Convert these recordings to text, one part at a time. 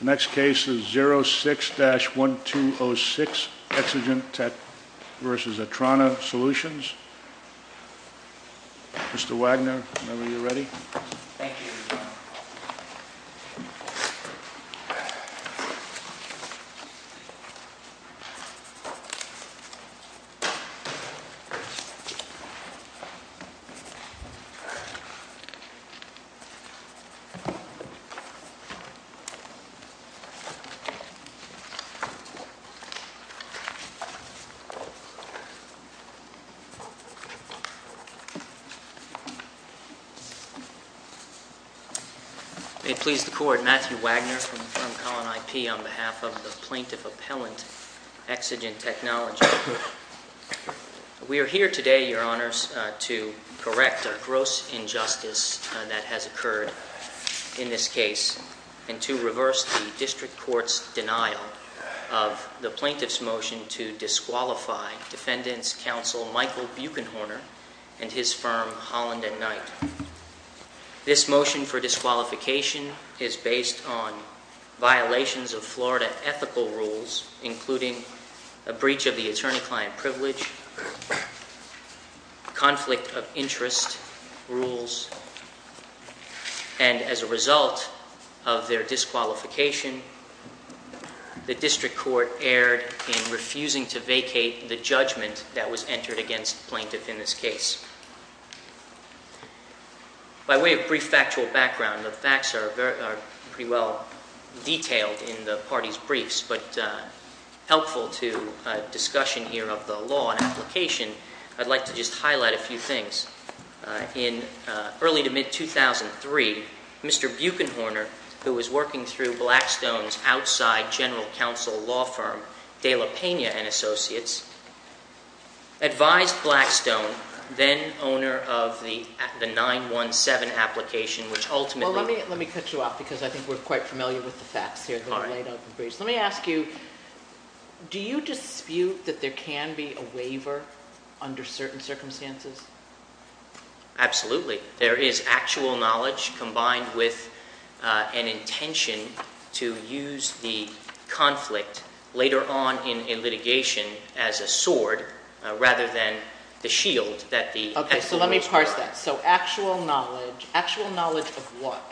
The next case is 06-1206, Exigent Tech v. Atrana Solutions. Mr. Wagner, whenever you're ready. Thank you. May it please the Court, Matthew Wagner from Column IP on behalf of the Plaintiff Appellant, Exigent Technologies. We are here today, Your Honors, to correct a gross injustice that has occurred in this case and to reverse the District Court's denial of the Plaintiff's motion to disqualify Defendant's Counsel Michael Buechenhorner and his firm, Holland and Knight. This motion for disqualification is based on violations of Florida ethical rules, including a breach of the attorney-client privilege, conflict of interest rules, and as a result of their disqualification, the District Court erred in refusing to vacate the judgment that was entered against the Plaintiff in this case. By way of brief factual background, the facts are pretty well detailed in the parties' briefs, but helpful to discussion here of the law and application, I'd like to just highlight a few things. In early to mid-2003, Mr. Buechenhorner, who was working through Blackstone's outside general counsel law firm, De La Pena and Associates, advised Blackstone, then owner of the 917 application, which ultimately... Well, let me cut you off because I think we're quite familiar with the facts here that are laid out in the briefs. Let me ask you, do you dispute that there can be a waiver under certain circumstances? Absolutely. There is actual knowledge combined with an intention to use the conflict later on in litigation as a sword rather than the shield that the... Okay, so let me parse that. So actual knowledge. Actual knowledge of what?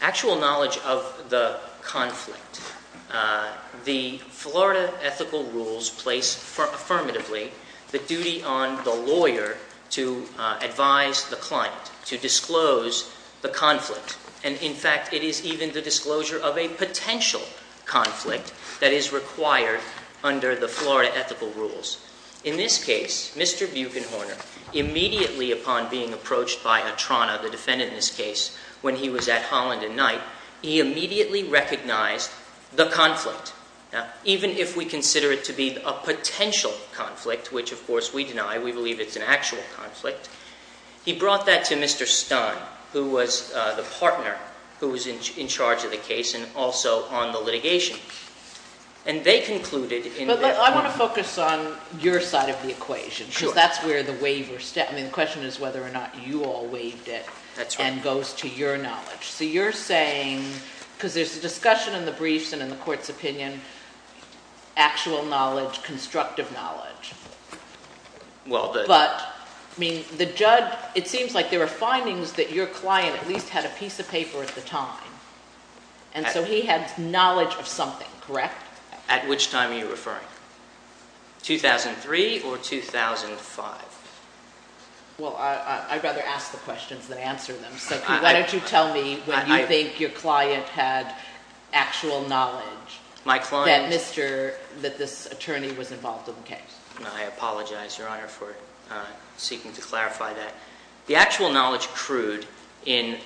Actual knowledge of the conflict. The Florida ethical rules place affirmatively the duty on the lawyer to advise the client, to disclose the conflict, and in fact, it is even the disclosure of a potential conflict that is required under the Florida ethical rules. In this case, Mr. Buechenhorner, immediately upon being approached by Atrana, the defendant in this case, when he was at Holland and Knight, he immediately recognized the conflict. Now, even if we consider it to be a potential conflict, which of course we deny, we believe it's an actual conflict, he brought that to Mr. Stone, who was the partner who was in charge of the case and also on the litigation. And they concluded... I want to focus on your side of the equation, because that's where the waiver... I mean, the question is whether or not you all waived it and goes to your knowledge. So you're saying, because there's a discussion in the briefs and in the court's opinion, actual knowledge, constructive knowledge. But, I mean, the judge, it seems like there are findings that your client at least had a piece of paper at the time, and so he had knowledge of something, correct? At which time are you referring? 2003 or 2005? Well, I'd rather ask the questions than answer them, so why don't you tell me when you think your client had actual knowledge that this attorney was involved in the case. I apologize, Your Honor, for seeking to clarify that. The actual knowledge accrued in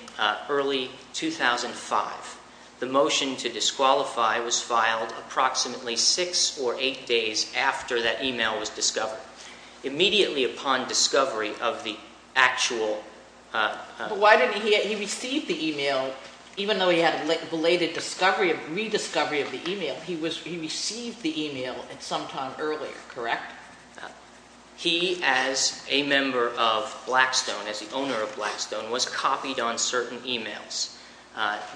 early 2005. The motion to disqualify was filed approximately six or eight days after that e-mail was discovered. Immediately upon discovery of the actual... But why didn't he... He received the e-mail, even though he had belated rediscovery of the e-mail. He received the e-mail at some time earlier, correct? He, as a member of Blackstone, as the owner of Blackstone, was copied on certain e-mails.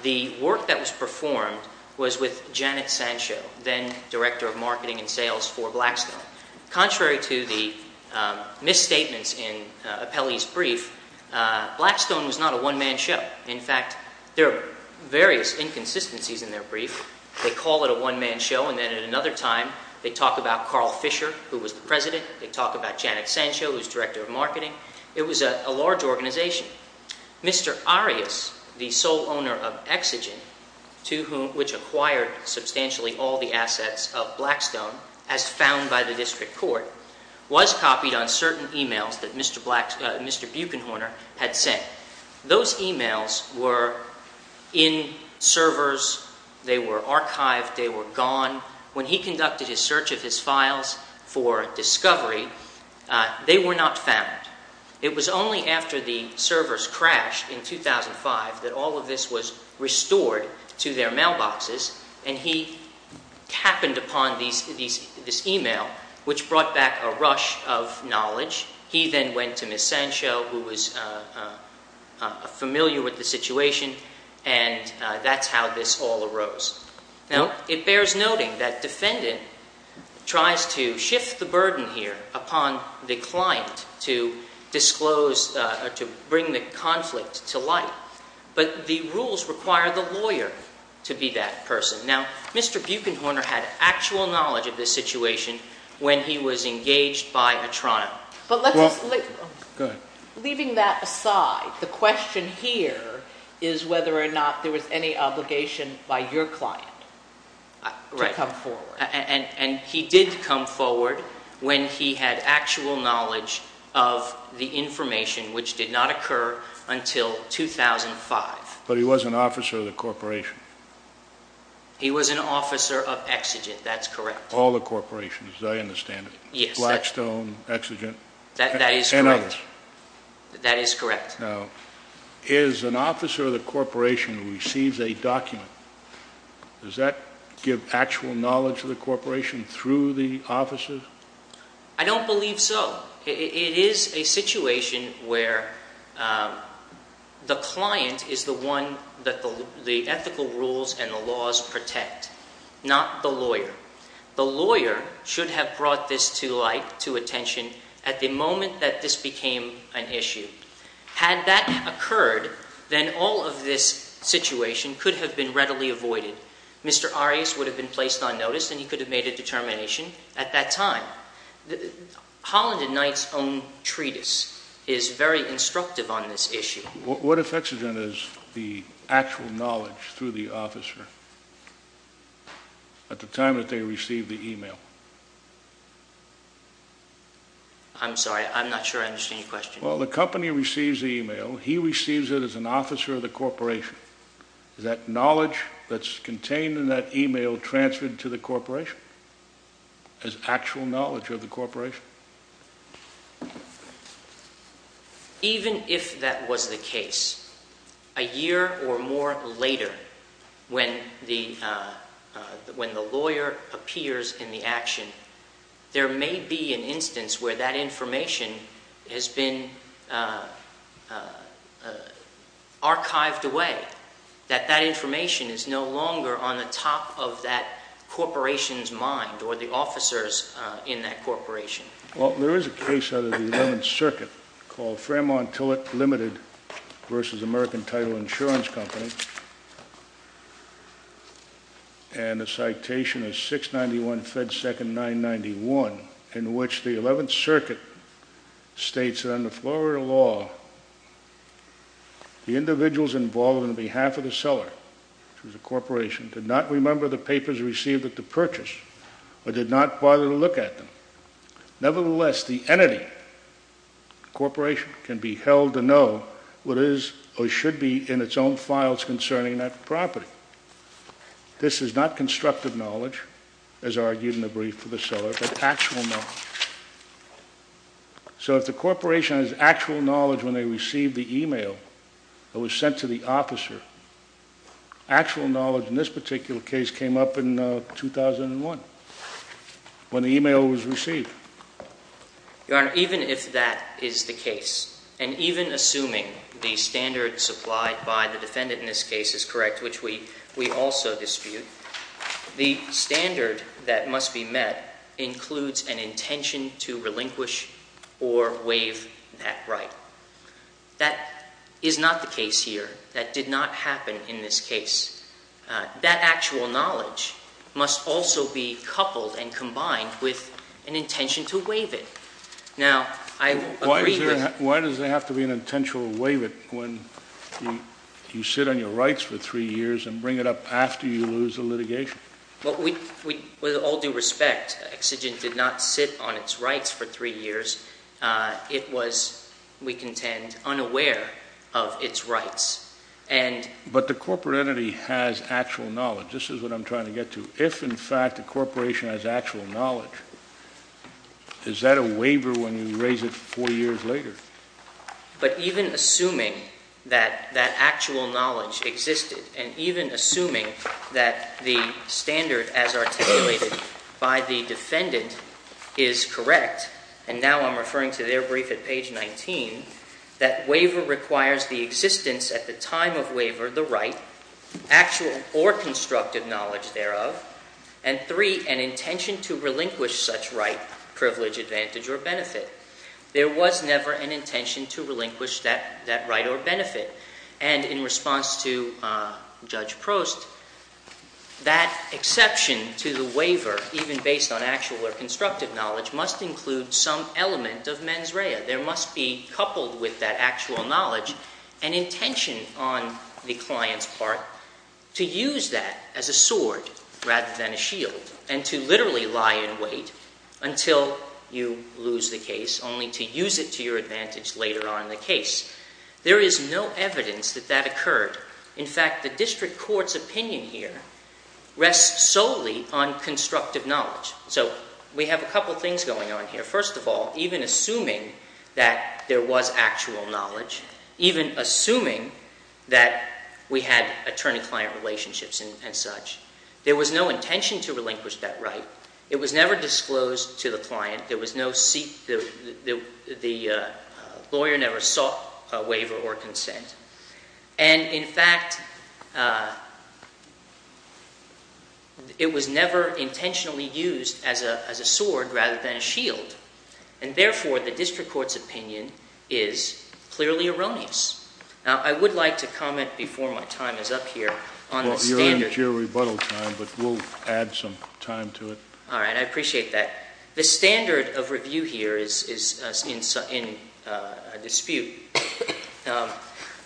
The work that was performed was with Janet Sancho, then Director of Marketing and Sales for Blackstone. Contrary to the misstatements in Apelli's brief, Blackstone was not a one-man show. In fact, there are various inconsistencies in their brief. They call it a one-man show, and then at another time they talk about Carl Fisher, who was the president. They talk about Janet Sancho, who was Director of Marketing. It was a large organization. Mr. Arias, the sole owner of Exigen, which acquired substantially all the assets of Blackstone, as found by the district court, was copied on certain e-mails that Mr. Buechenhorner had sent. Those e-mails were in servers. They were archived. They were gone. When he conducted his search of his files for discovery, they were not found. It was only after the servers crashed in 2005 that all of this was restored to their mailboxes, and he happened upon this e-mail, which brought back a rush of knowledge. He then went to Ms. Sancho, who was familiar with the situation, and that's how this all arose. Now, it bears noting that defendant tries to shift the burden here upon the client to disclose or to bring the conflict to light, but the rules require the lawyer to be that person. Now, Mr. Buechenhorner had actual knowledge of this situation when he was engaged by a trial. Leaving that aside, the question here is whether or not there was any obligation by your client to come forward. Right, and he did come forward when he had actual knowledge of the information, which did not occur until 2005. But he was an officer of the corporation. He was an officer of Exigen, that's correct. All the corporations, as I understand it. Yes. Blackstone, Exigen. That is correct. And others. That is correct. Now, is an officer of the corporation who receives a document, does that give actual knowledge of the corporation through the officers? I don't believe so. It is a situation where the client is the one that the ethical rules and the laws protect, not the lawyer. The lawyer should have brought this to light, to attention, at the moment that this became an issue. Had that occurred, then all of this situation could have been readily avoided. Mr. Arias would have been placed on notice and he could have made a determination at that time. Now, Holland and Knight's own treatise is very instructive on this issue. What if Exigen is the actual knowledge through the officer at the time that they received the email? I'm sorry, I'm not sure I understand your question. Well, the company receives the email. He receives it as an officer of the corporation. Is that knowledge that's contained in that email transferred to the corporation as actual knowledge of the corporation? Even if that was the case, a year or more later when the lawyer appears in the action, there may be an instance where that information has been archived away, that that information is no longer on the top of that corporation's mind or the officer's in that corporation. Well, there is a case under the Eleventh Circuit called Framont Tillett Limited v. American Title Insurance Company, and the citation is 691 Fed Second 991, in which the Eleventh Circuit states that under Florida law, the individuals involved on behalf of the seller to the corporation did not remember the papers received at the purchase or did not bother to look at them. Nevertheless, the entity, the corporation, can be held to know what is or should be in its own files concerning that property. This is not constructive knowledge, as argued in the brief for the seller, but actual knowledge. So if the corporation has actual knowledge when they receive the email that was sent to the officer, actual knowledge in this particular case came up in 2001, when the email was received. Your Honor, even if that is the case, and even assuming the standard supplied by the defendant in this case is correct, which we also dispute, the standard that must be met includes an intention to relinquish or waive that right. That is not the case here. That did not happen in this case. That actual knowledge must also be coupled and combined with an intention to waive it. Why does there have to be an intention to waive it when you sit on your rights for three years and bring it up after you lose the litigation? Well, with all due respect, Exigent did not sit on its rights for three years. It was, we contend, unaware of its rights. But the corporate entity has actual knowledge. This is what I'm trying to get to. If, in fact, the corporation has actual knowledge, is that a waiver when you raise it four years later? But even assuming that that actual knowledge existed, and even assuming that the standard as articulated by the defendant is correct, and now I'm referring to their brief at page 19, that waiver requires the existence at the time of waiver, the right, actual or constructive knowledge thereof, and three, an intention to relinquish such right, privilege, advantage, or benefit. There was never an intention to relinquish that right or benefit. And in response to Judge Prost, that exception to the waiver, even based on actual or constructive knowledge, must include some element of mens rea. There must be, coupled with that actual knowledge, an intention on the client's part to use that as a sword rather than a shield, and to literally lie in wait until you lose the case, only to use it to your advantage later on in the case. There is no evidence that that occurred. In fact, the district court's opinion here rests solely on constructive knowledge. So we have a couple things going on here. First of all, even assuming that there was actual knowledge, even assuming that we had attorney-client relationships and such, there was no intention to relinquish that right. It was never disclosed to the client. There was no seat. The lawyer never sought a waiver or consent. And in fact, it was never intentionally used as a sword rather than a shield. And therefore, the district court's opinion is clearly erroneous. Now, I would like to comment before my time is up here on the standard. Well, you're out of your rebuttal time, but we'll add some time to it. All right. I appreciate that. The standard of review here is in dispute.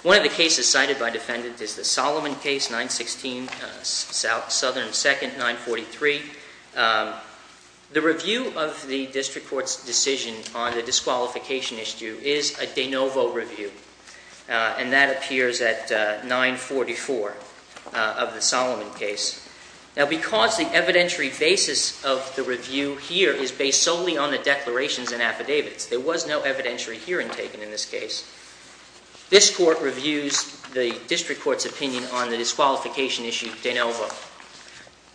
One of the cases cited by defendants is the Solomon case, 916, Southern and 2nd, 943. The review of the district court's decision on the disqualification issue is a de novo review, and that appears at 944 of the Solomon case. Now, because the evidentiary basis of the review here is based solely on the declarations and affidavits, there was no evidentiary hearing taken in this case, this court reviews the district court's opinion on the disqualification issue de novo.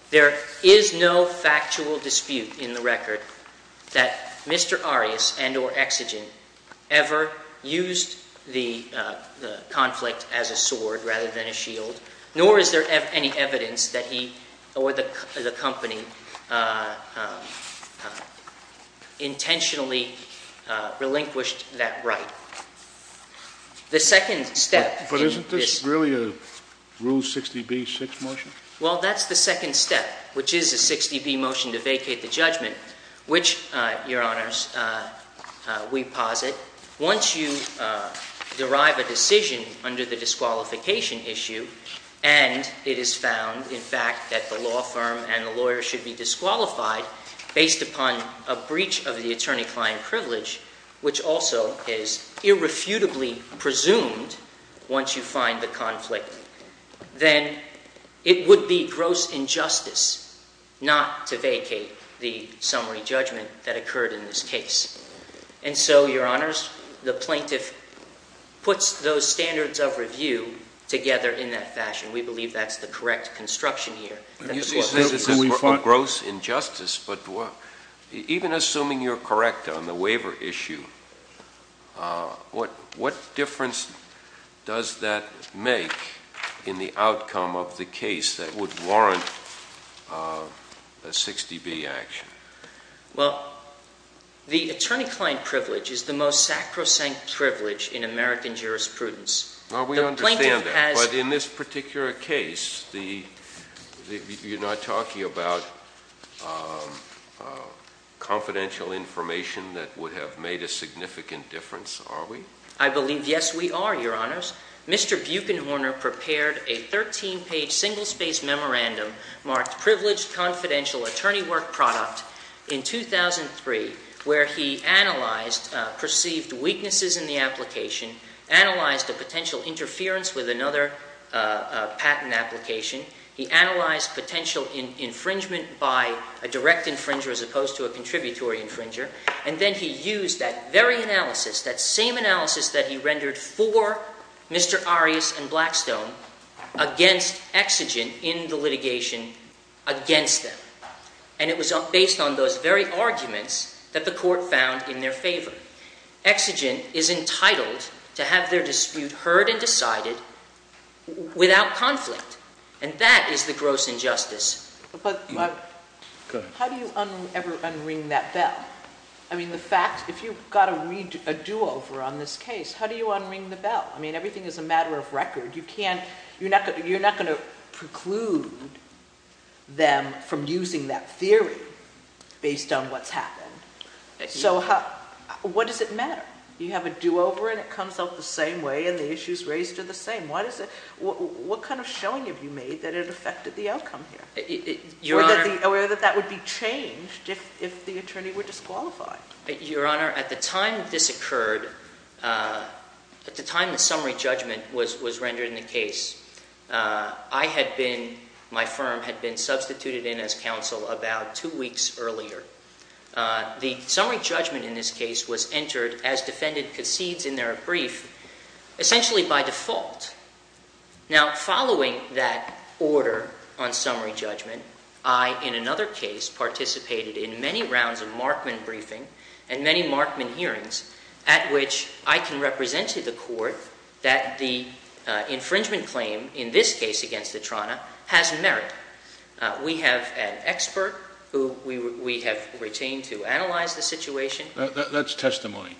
There is no factual dispute in the record that Mr. Arias and or Exigent ever used the conflict as a sword rather than a shield, nor is there any evidence that he or the company intentionally relinquished that right. The second step in this- But isn't this really a Rule 60b-6 motion? Well, that's the second step, which is a 60b motion to vacate the judgment, which, Your Honors, we posit, once you derive a decision under the disqualification issue and it is found, in fact, that the law firm and the lawyer should be disqualified based upon a breach of the attorney-client privilege, which also is irrefutably presumed once you find the conflict, then it would be gross injustice not to vacate the summary judgment that occurred in this case. And so, Your Honors, the plaintiff puts those standards of review together in that fashion. We believe that's the correct construction here. You say this is a gross injustice, but even assuming you're correct on the waiver issue, what difference does that make in the outcome of the case that would warrant a 60b action? Well, the attorney-client privilege is the most sacrosanct privilege in American jurisprudence. Now, we understand that. The plaintiff has- But in this particular case, you're not talking about confidential information that would have made a significant difference, are we? I believe, yes, we are, Your Honors. Mr. Buechenhorner prepared a 13-page single-space memorandum marked Privileged Confidential Attorney Work Product in 2003, where he analyzed perceived weaknesses in the application, analyzed the potential interference with another patent application. He analyzed potential infringement by a direct infringer as opposed to a contributory infringer, and then he used that very analysis, that same analysis that he rendered for Mr. Arias and Blackstone against Exigent in the litigation against them. And it was based on those very arguments that the Court found in their favor. Exigent is entitled to have their dispute heard and decided without conflict, and that is the gross injustice. How do you ever unring that bell? I mean, the fact, if you've got a do-over on this case, how do you unring the bell? I mean, everything is a matter of record. You're not going to preclude them from using that theory based on what's happened. So what does it matter? You have a do-over, and it comes out the same way, and the issues raised are the same. What kind of showing have you made that it affected the outcome here or that that would be changed if the attorney were disqualified? Your Honor, at the time this occurred, at the time the summary judgment was rendered in the case, I had been, my firm had been substituted in as counsel about two weeks earlier. The summary judgment in this case was entered as defendant concedes in their brief essentially by default. Now, following that order on summary judgment, I, in another case, participated in many rounds of Markman briefing and many Markman hearings at which I can represent to the Court that the infringement claim in this case against the trona has merit. We have an expert who we have retained to analyze the situation. That's testimony,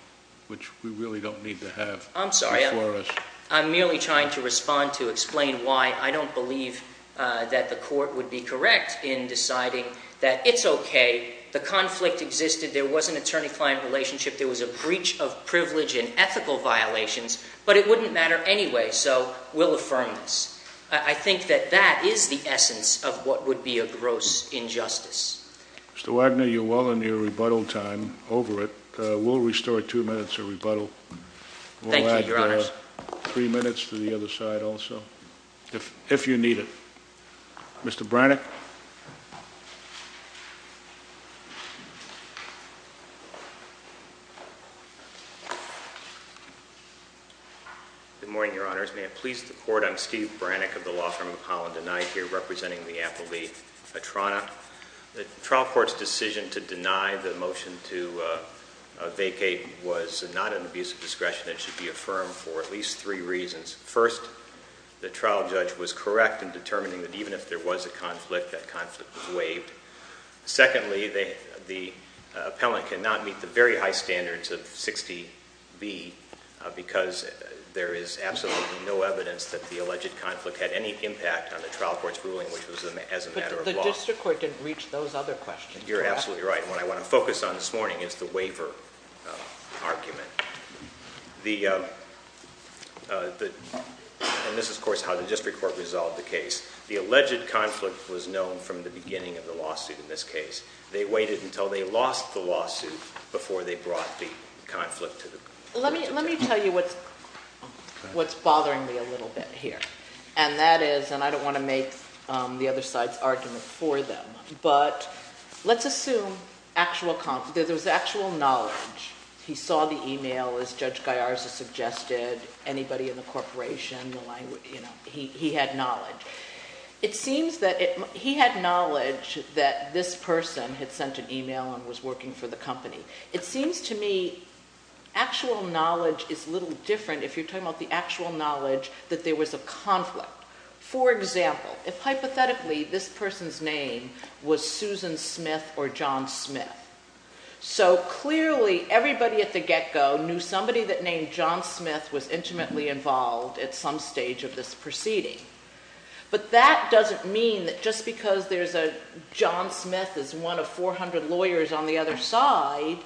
which we really don't need to have before us. I'm sorry. I'm merely trying to respond to explain why I don't believe that the Court would be correct in deciding that it's okay. The conflict existed. There was an attorney-client relationship. There was a breach of privilege and ethical violations, but it wouldn't matter anyway, so we'll affirm this. I think that that is the essence of what would be a gross injustice. Mr. Wagner, you're well in your rebuttal time over it. We'll restore two minutes of rebuttal. Thank you, Your Honors. We'll add three minutes to the other side also, if you need it. Mr. Brannick. Good morning, Your Honors. May it please the Court, I'm Steve Brannick of the Law Firm of Holland, and I'm here representing the appellee at trona. The trial court's decision to deny the motion to vacate was not an abuse of discretion. It should be affirmed for at least three reasons. First, the trial judge was correct in determining that even if there was a conflict, that conflict was waived. Secondly, the appellant cannot meet the very high standards of 60B, because there is absolutely no evidence that the alleged conflict had any impact on the trial court's ruling, which was as a matter of law. But the district court didn't reach those other questions. You're absolutely right. What I want to focus on this morning is the waiver argument. And this is, of course, how the district court resolved the case. The alleged conflict was known from the beginning of the lawsuit in this case. They waited until they lost the lawsuit before they brought the conflict to the district court. Let me tell you what's bothering me a little bit here. And that is, and I don't want to make the other side's argument for them, but let's assume there was actual knowledge. He saw the e-mail, as Judge Gallarza suggested, anybody in the corporation, he had knowledge. It seems that he had knowledge that this person had sent an e-mail and was working for the company. It seems to me actual knowledge is a little different if you're talking about the actual knowledge that there was a conflict. For example, if hypothetically this person's name was Susan Smith or John Smith, so clearly everybody at the get-go knew somebody that named John Smith was intimately involved at some stage of this proceeding. But that doesn't mean that just because there's a John Smith is one of 400 lawyers on the other side,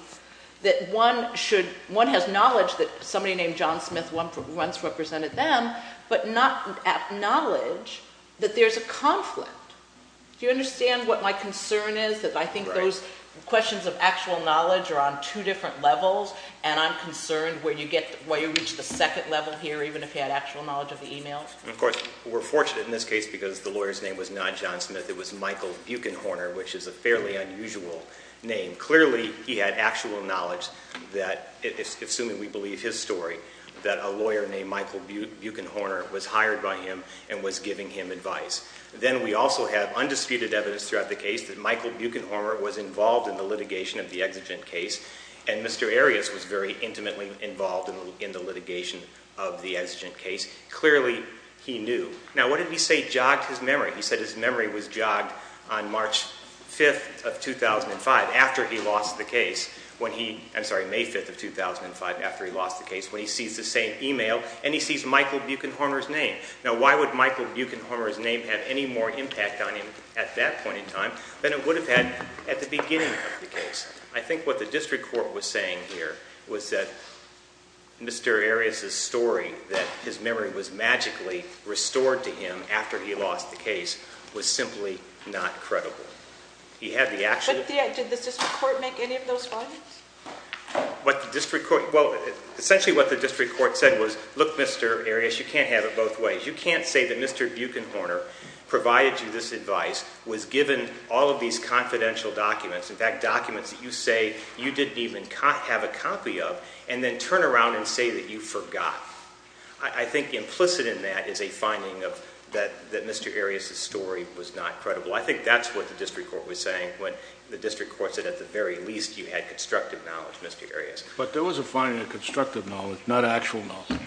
that one should, one has knowledge that somebody named John Smith once represented them, but not knowledge that there's a conflict. Do you understand what my concern is, that I think those questions of actual knowledge are on two different levels, and I'm concerned where you get, where you reach the second level here, even if he had actual knowledge of the e-mails? Of course, we're fortunate in this case because the lawyer's name was not John Smith. It was Michael Buechenhorner, which is a fairly unusual name. Clearly, he had actual knowledge that, assuming we believe his story, that a lawyer named Michael Buechenhorner was hired by him and was giving him advice. Then we also have undisputed evidence throughout the case that Michael Buechenhorner was involved in the litigation of the exigent case, and Mr. Arias was very intimately involved in the litigation of the exigent case. Clearly, he knew. Now, what did he say jogged his memory? He said his memory was jogged on March 5th of 2005, after he lost the case, when he, I'm sorry, May 5th of 2005, after he lost the case, when he sees the same e-mail, and he sees Michael Buechenhorner's name. Now, why would Michael Buechenhorner's name have any more impact on him at that point in time than it would have had at the beginning of the case? I think what the district court was saying here was that Mr. Arias' story, that his memory was magically restored to him after he lost the case, was simply not credible. He had the actual… But did the district court make any of those findings? What the district court… Well, essentially what the district court said was, look, Mr. Arias, you can't have it both ways. You can't say that Mr. Buechenhorner provided you this advice, was given all of these confidential documents, in fact, documents that you say you didn't even have a copy of, and then turn around and say that you forgot. I think implicit in that is a finding that Mr. Arias' story was not credible. I think that's what the district court was saying when the district court said at the very least you had constructive knowledge, Mr. Arias. But there was a finding of constructive knowledge, not actual knowledge.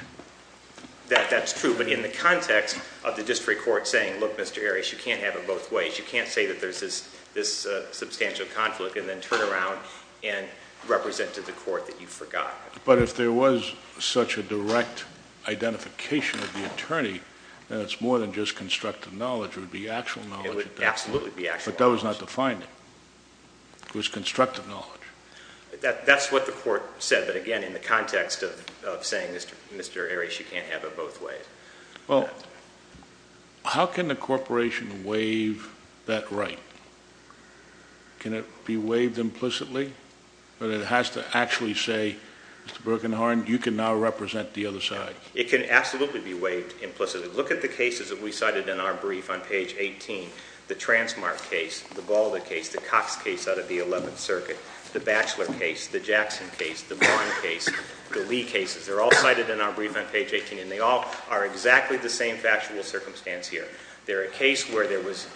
That's true, but in the context of the district court saying, look, Mr. Arias, you can't have it both ways. You can't say that there's this substantial conflict and then turn around and represent to the court that you forgot. But if there was such a direct identification of the attorney, then it's more than just constructive knowledge. It would be actual knowledge. It would absolutely be actual knowledge. But that was not the finding. It was constructive knowledge. That's what the court said, but again, in the context of saying, Mr. Arias, you can't have it both ways. Well, how can the corporation waive that right? Can it be waived implicitly, or does it have to actually say, Mr. Buechenhorner, you can now represent the other side? It can absolutely be waived implicitly. Look at the cases that we cited in our brief on page 18. The Transmark case, the Balda case, the Cox case out of the 11th Circuit, the Batchelor case, the Jackson case, the Bond case, the Lee cases. They're all cited in our brief on page 18, and they all are exactly the same factual circumstance here. They're a case where there was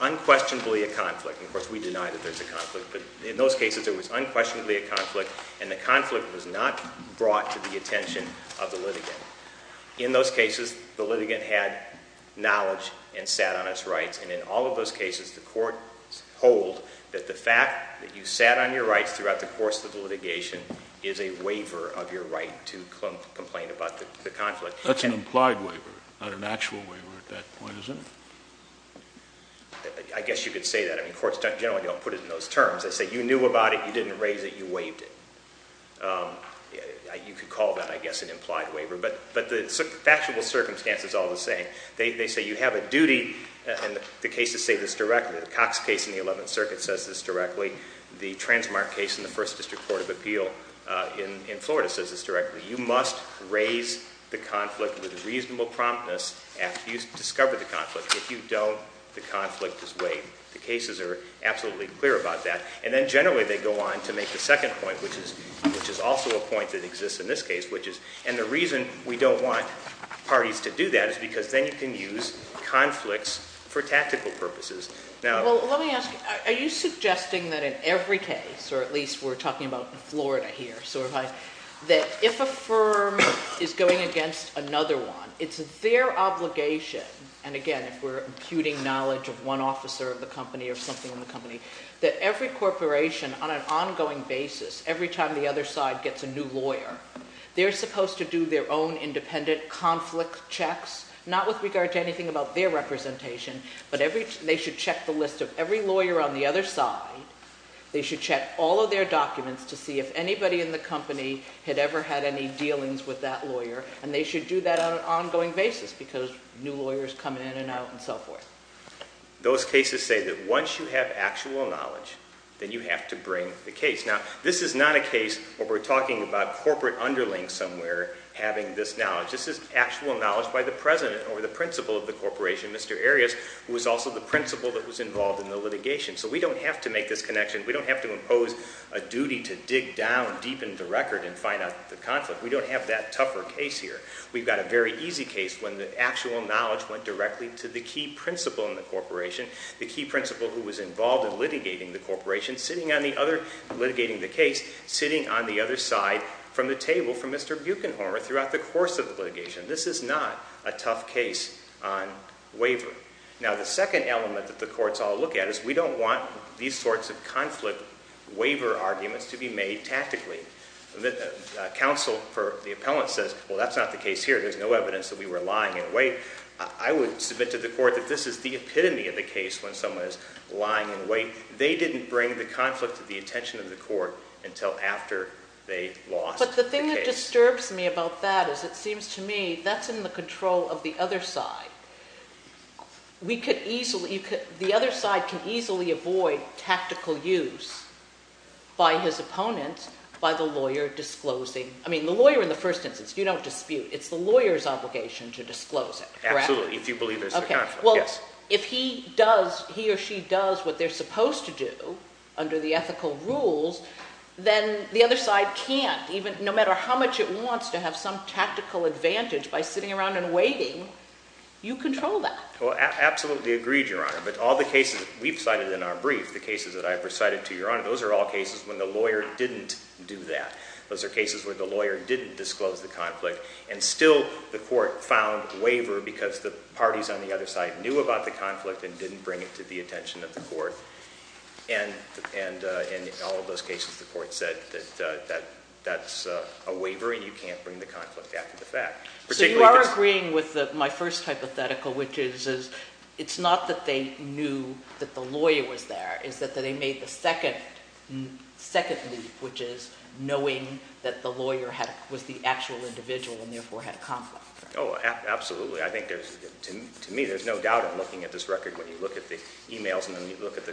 unquestionably a conflict. Of course, we deny that there's a conflict, but in those cases, there was unquestionably a conflict, and the conflict was not brought to the attention of the litigant. In those cases, the litigant had knowledge and sat on its rights, and in all of those cases, the courts hold that the fact that you sat on your rights throughout the course of the litigation is a waiver of your right to complain about the conflict. That's an implied waiver, not an actual waiver at that point, is it? I guess you could say that. I mean, courts generally don't put it in those terms. They say you knew about it, you didn't raise it, you waived it. You could call that, I guess, an implied waiver, but the factual circumstance is all the same. They say you have a duty, and the cases say this directly. The Cox case in the 11th Circuit says this directly. The Transmark case in the First District Court of Appeal in Florida says this directly. You must raise the conflict with reasonable promptness after you discover the conflict. If you don't, the conflict is waived. The cases are absolutely clear about that, and then generally they go on to make the second point, which is also a point that exists in this case, which is, and the reason we don't want parties to do that is because then you can use conflicts for tactical purposes. Well, let me ask you, are you suggesting that in every case, or at least we're talking about Florida here, that if a firm is going against another one, it's their obligation, and again, if we're imputing knowledge of one officer of the company or something in the company, that every corporation on an ongoing basis, every time the other side gets a new lawyer, they're supposed to do their own independent conflict checks, not with regard to anything about their representation, but they should check the list of every lawyer on the other side. They should check all of their documents to see if anybody in the company had ever had any dealings with that lawyer, and they should do that on an ongoing basis because new lawyers come in and out and so forth. Those cases say that once you have actual knowledge, then you have to bring the case. Now, this is not a case where we're talking about corporate underlings somewhere having this knowledge. This is actual knowledge by the president or the principal of the corporation, Mr. Arias, who was also the principal that was involved in the litigation. So we don't have to make this connection. We don't have to impose a duty to dig down deep into the record and find out the conflict. We don't have that tougher case here. We've got a very easy case when the actual knowledge went directly to the key principal in the corporation, the key principal who was involved in litigating the corporation, sitting on the other, litigating the case, sitting on the other side from the table for Mr. Buechenholmer throughout the course of the litigation. This is not a tough case on wavering. Now, the second element that the courts all look at is we don't want these sorts of conflict waiver arguments to be made tactically. Counsel for the appellant says, well, that's not the case here. There's no evidence that we were lying in wait. I would submit to the court that this is the epitome of the case when someone is lying in wait. They didn't bring the conflict to the attention of the court until after they lost the case. But the thing that disturbs me about that is it seems to me that's in the control of the other side. The other side can easily avoid tactical use by his opponent, by the lawyer disclosing. I mean, the lawyer in the first instance, you don't dispute. It's the lawyer's obligation to disclose it, correct? Absolutely, if you believe there's a conflict, yes. Well, if he does, he or she does what they're supposed to do under the ethical rules, then the other side can't, no matter how much it wants to have some tactical advantage by sitting around and waiting, you control that. Well, absolutely agreed, Your Honor. But all the cases we've cited in our brief, the cases that I've recited to Your Honor, those are all cases when the lawyer didn't do that. Those are cases where the lawyer didn't disclose the conflict, and still the court found waiver because the parties on the other side knew about the conflict and didn't bring it to the attention of the court. And in all of those cases, the court said that that's a waiver, and you can't bring the conflict back to the fact. So you are agreeing with my first hypothetical, which is it's not that they knew that the lawyer was there, it's that they made the second leap, which is knowing that the lawyer was the actual individual and therefore had a conflict. Oh, absolutely. To me, there's no doubt in looking at this record when you look at the e-mails and then you look at the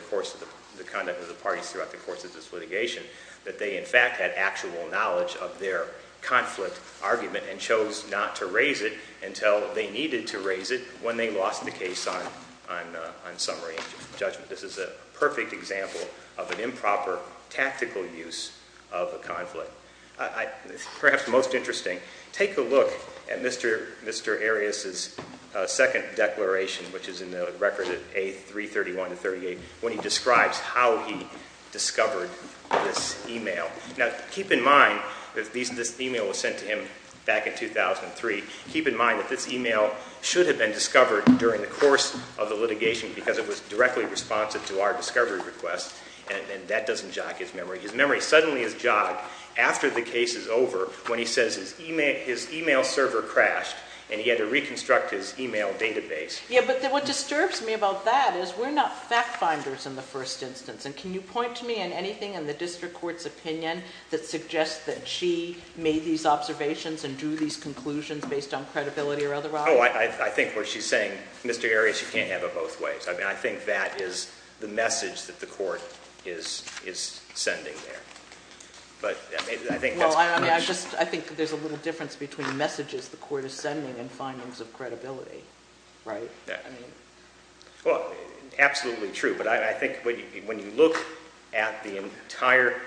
conduct of the parties throughout the course of this litigation that they in fact had actual knowledge of their conflict argument and chose not to raise it until they needed to raise it when they lost the case on summary judgment. This is a perfect example of an improper tactical use of a conflict. Perhaps most interesting, take a look at Mr. Arias' second declaration, which is in the record at A331-38 when he describes how he discovered this e-mail. Now, keep in mind that this e-mail was sent to him back in 2003. Keep in mind that this e-mail should have been discovered during the course of the litigation because it was directly responsive to our discovery request, and that doesn't jog his memory. His memory suddenly is jogged after the case is over when he says his e-mail server crashed and he had to reconstruct his e-mail database. Yeah, but what disturbs me about that is we're not fact finders in the first instance, and can you point to me in anything in the district court's opinion that suggests that she made these observations and drew these conclusions based on credibility or otherwise? Oh, I think what she's saying, Mr. Arias, you can't have it both ways. I mean, I think that is the message that the court is sending there. But I think that's a question. Well, I think there's a little difference between messages the court is sending and findings of credibility, right? Well, absolutely true, but I think when you look at the entire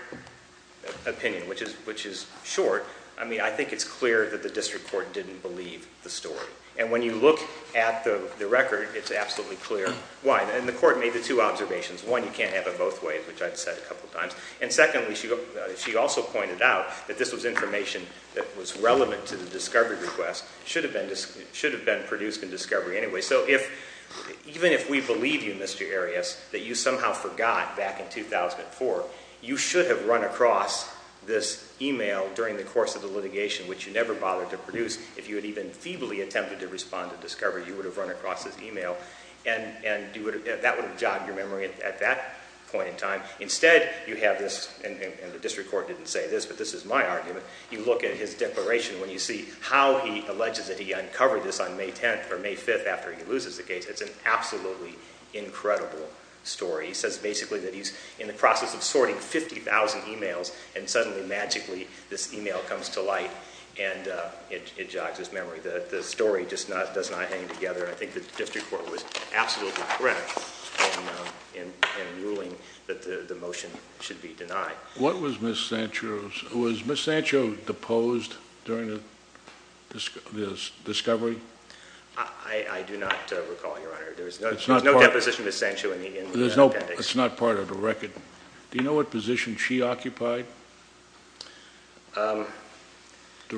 opinion, which is short, I mean, I think it's clear that the district court didn't believe the story. And when you look at the record, it's absolutely clear why. And the court made the two observations. One, you can't have it both ways, which I've said a couple of times. And secondly, she also pointed out that this was information that was relevant to the discovery request. It should have been produced in discovery anyway. So even if we believe you, Mr. Arias, that you somehow forgot back in 2004, you should have run across this e-mail during the course of the litigation, which you never bothered to produce. If you had even feebly attempted to respond to discovery, you would have run across this e-mail, and that would have jogged your memory at that point in time. Instead, you have this, and the district court didn't say this, but this is my argument. You look at his declaration. When you see how he alleges that he uncovered this on May 10th or May 5th after he loses the case, it's an absolutely incredible story. He says basically that he's in the process of sorting 50,000 e-mails, and suddenly, magically, this e-mail comes to light, and it jogs his memory. The story just does not hang together. I think the district court was absolutely correct in ruling that the motion should be denied. What was Ms. Sancho's? Was Ms. Sancho deposed during the discovery? I do not recall, Your Honor. There was no deposition of Ms. Sancho in the appendix. It's not part of the record. Do you know what position she occupied? Her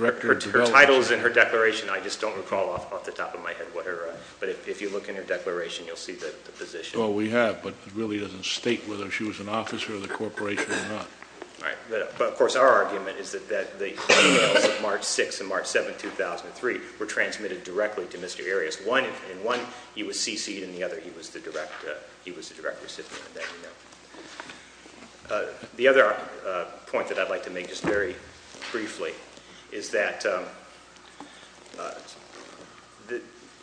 title is in her declaration. I just don't recall off the top of my head. But if you look in her declaration, you'll see the position. Well, we have, but it really doesn't state whether she was an officer of the corporation or not. All right. But, of course, our argument is that the e-mails of March 6th and March 7th, 2003, were transmitted directly to Mr. Arias. One, he was CC'd, and the other, he was the direct recipient of that e-mail. The other point that I'd like to make, just very briefly, is that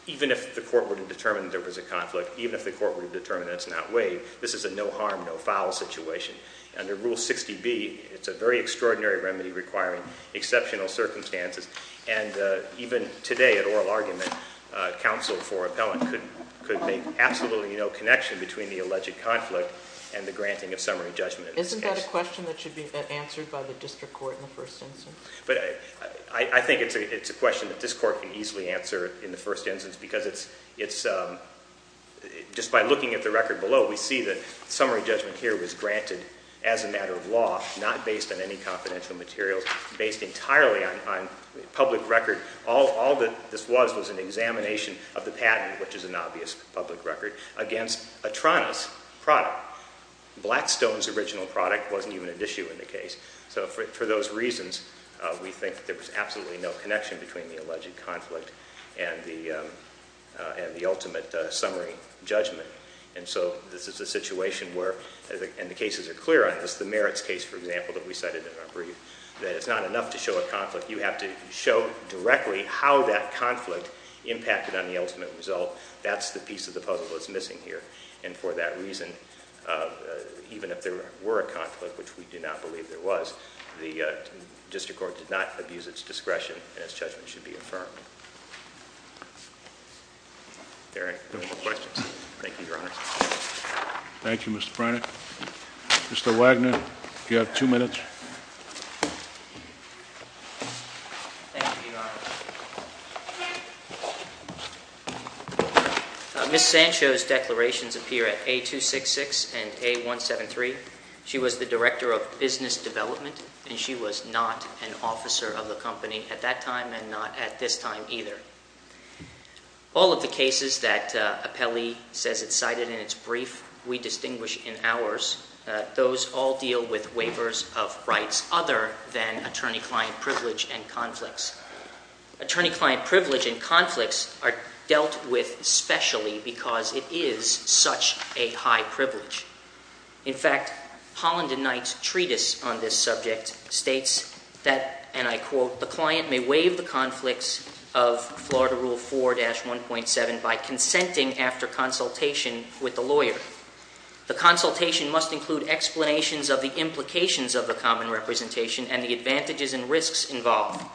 even if the court were to determine that there was a conflict, even if the court were to determine that it's not waived, this is a no-harm, no-foul situation. Under Rule 60B, it's a very extraordinary remedy requiring exceptional circumstances. And even today, at oral argument, counsel for appellant could make absolutely no connection between the alleged conflict and the granting of summary judgment in this case. Isn't that a question that should be answered by the district court in the first instance? But I think it's a question that this court can easily answer in the first instance because it's, just by looking at the record below, we see that summary judgment here was granted as a matter of law, not based on any confidential materials, based entirely on public record. All that this was was an examination of the patent, which is an obvious public record, against Atrana's product. Blackstone's original product wasn't even an issue in the case. So for those reasons, we think that there was absolutely no connection between the alleged conflict and the ultimate summary judgment. And so this is a situation where, and the cases are clear on this, the merits case, for example, that we cited in our brief, that it's not enough to show a conflict. You have to show directly how that conflict impacted on the ultimate result. That's the piece of the puzzle that's missing here. And for that reason, even if there were a conflict, which we do not believe there was, the district court did not abuse its discretion and its judgment should be affirmed. Are there any more questions? Thank you, Your Honor. Thank you, Mr. Briner. Mr. Wagner, you have two minutes. Thank you, Your Honor. Ms. Sancho's declarations appear at A266 and A173. She was the director of business development, and she was not an officer of the company at that time and not at this time either. All of the cases that Appelli says it cited in its brief we distinguish in ours. Those all deal with waivers of rights other than attorney-client privilege and conflicts. Attorney-client privilege and conflicts are dealt with specially because it is such a high privilege. In fact, Holland and Knight's treatise on this subject states that, and I quote, the client may waive the conflicts of Florida Rule 4-1.7 by consenting after consultation with the lawyer. The consultation must include explanations of the implications of the common representation and the advantages and risks involved.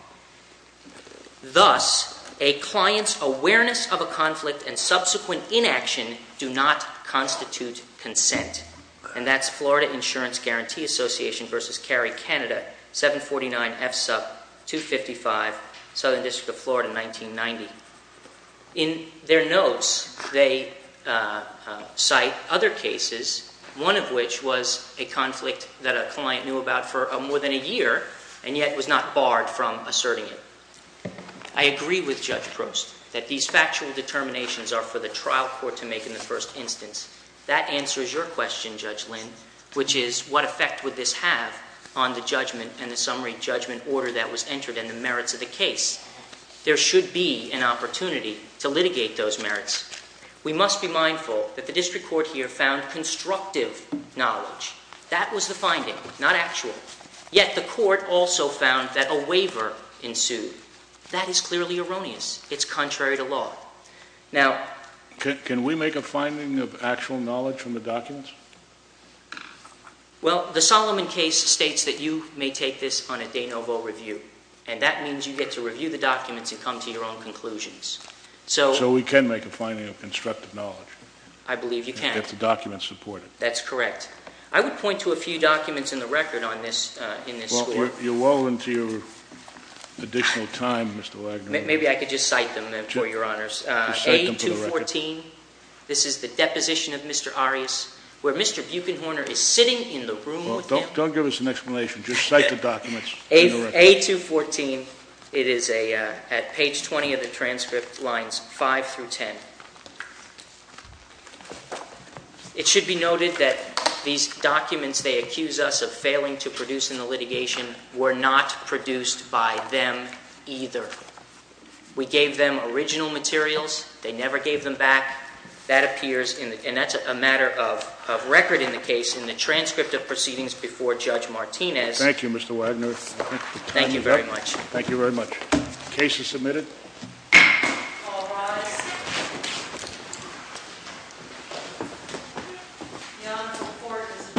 Thus, a client's awareness of a conflict and subsequent inaction do not constitute consent. And that's Florida Insurance Guarantee Association v. Cary, Canada, 749 F. Sup. 255, Southern District of Florida, 1990. In their notes, they cite other cases, one of which was a conflict that a client knew about for more than a year and yet was not barred from asserting it. I agree with Judge Proust that these factual determinations are for the trial court to make in the first instance. That answers your question, Judge Lynn, which is what effect would this have on the judgment and the summary judgment order that was entered and the merits of the case? There should be an opportunity to litigate those merits. We must be mindful that the district court here found constructive knowledge. That was the finding, not actual. Yet the court also found that a waiver ensued. That is clearly erroneous. It's contrary to law. Now, can we make a finding of actual knowledge from the documents? Well, the Solomon case states that you may take this on a de novo review, and that means you get to review the documents and come to your own conclusions. So we can make a finding of constructive knowledge. I believe you can. And get the documents supported. That's correct. I would point to a few documents in the record in this school. You're well into your additional time, Mr. Wagner. Maybe I could just cite them for your honors. A214, this is the deposition of Mr. Arias, where Mr. Buechenhorner is sitting in the room with him. Don't give us an explanation. Just cite the documents. A214, it is at page 20 of the transcript, lines 5 through 10. It should be noted that these documents they accuse us of failing to produce in the litigation were not produced by them either. We gave them original materials. They never gave them back. That appears, and that's a matter of record in the case, in the transcript of proceedings before Judge Martinez. Thank you, Mr. Wagner. Thank you very much. Thank you very much. The case is submitted. All rise. The honorable court is adjourned from day ahead.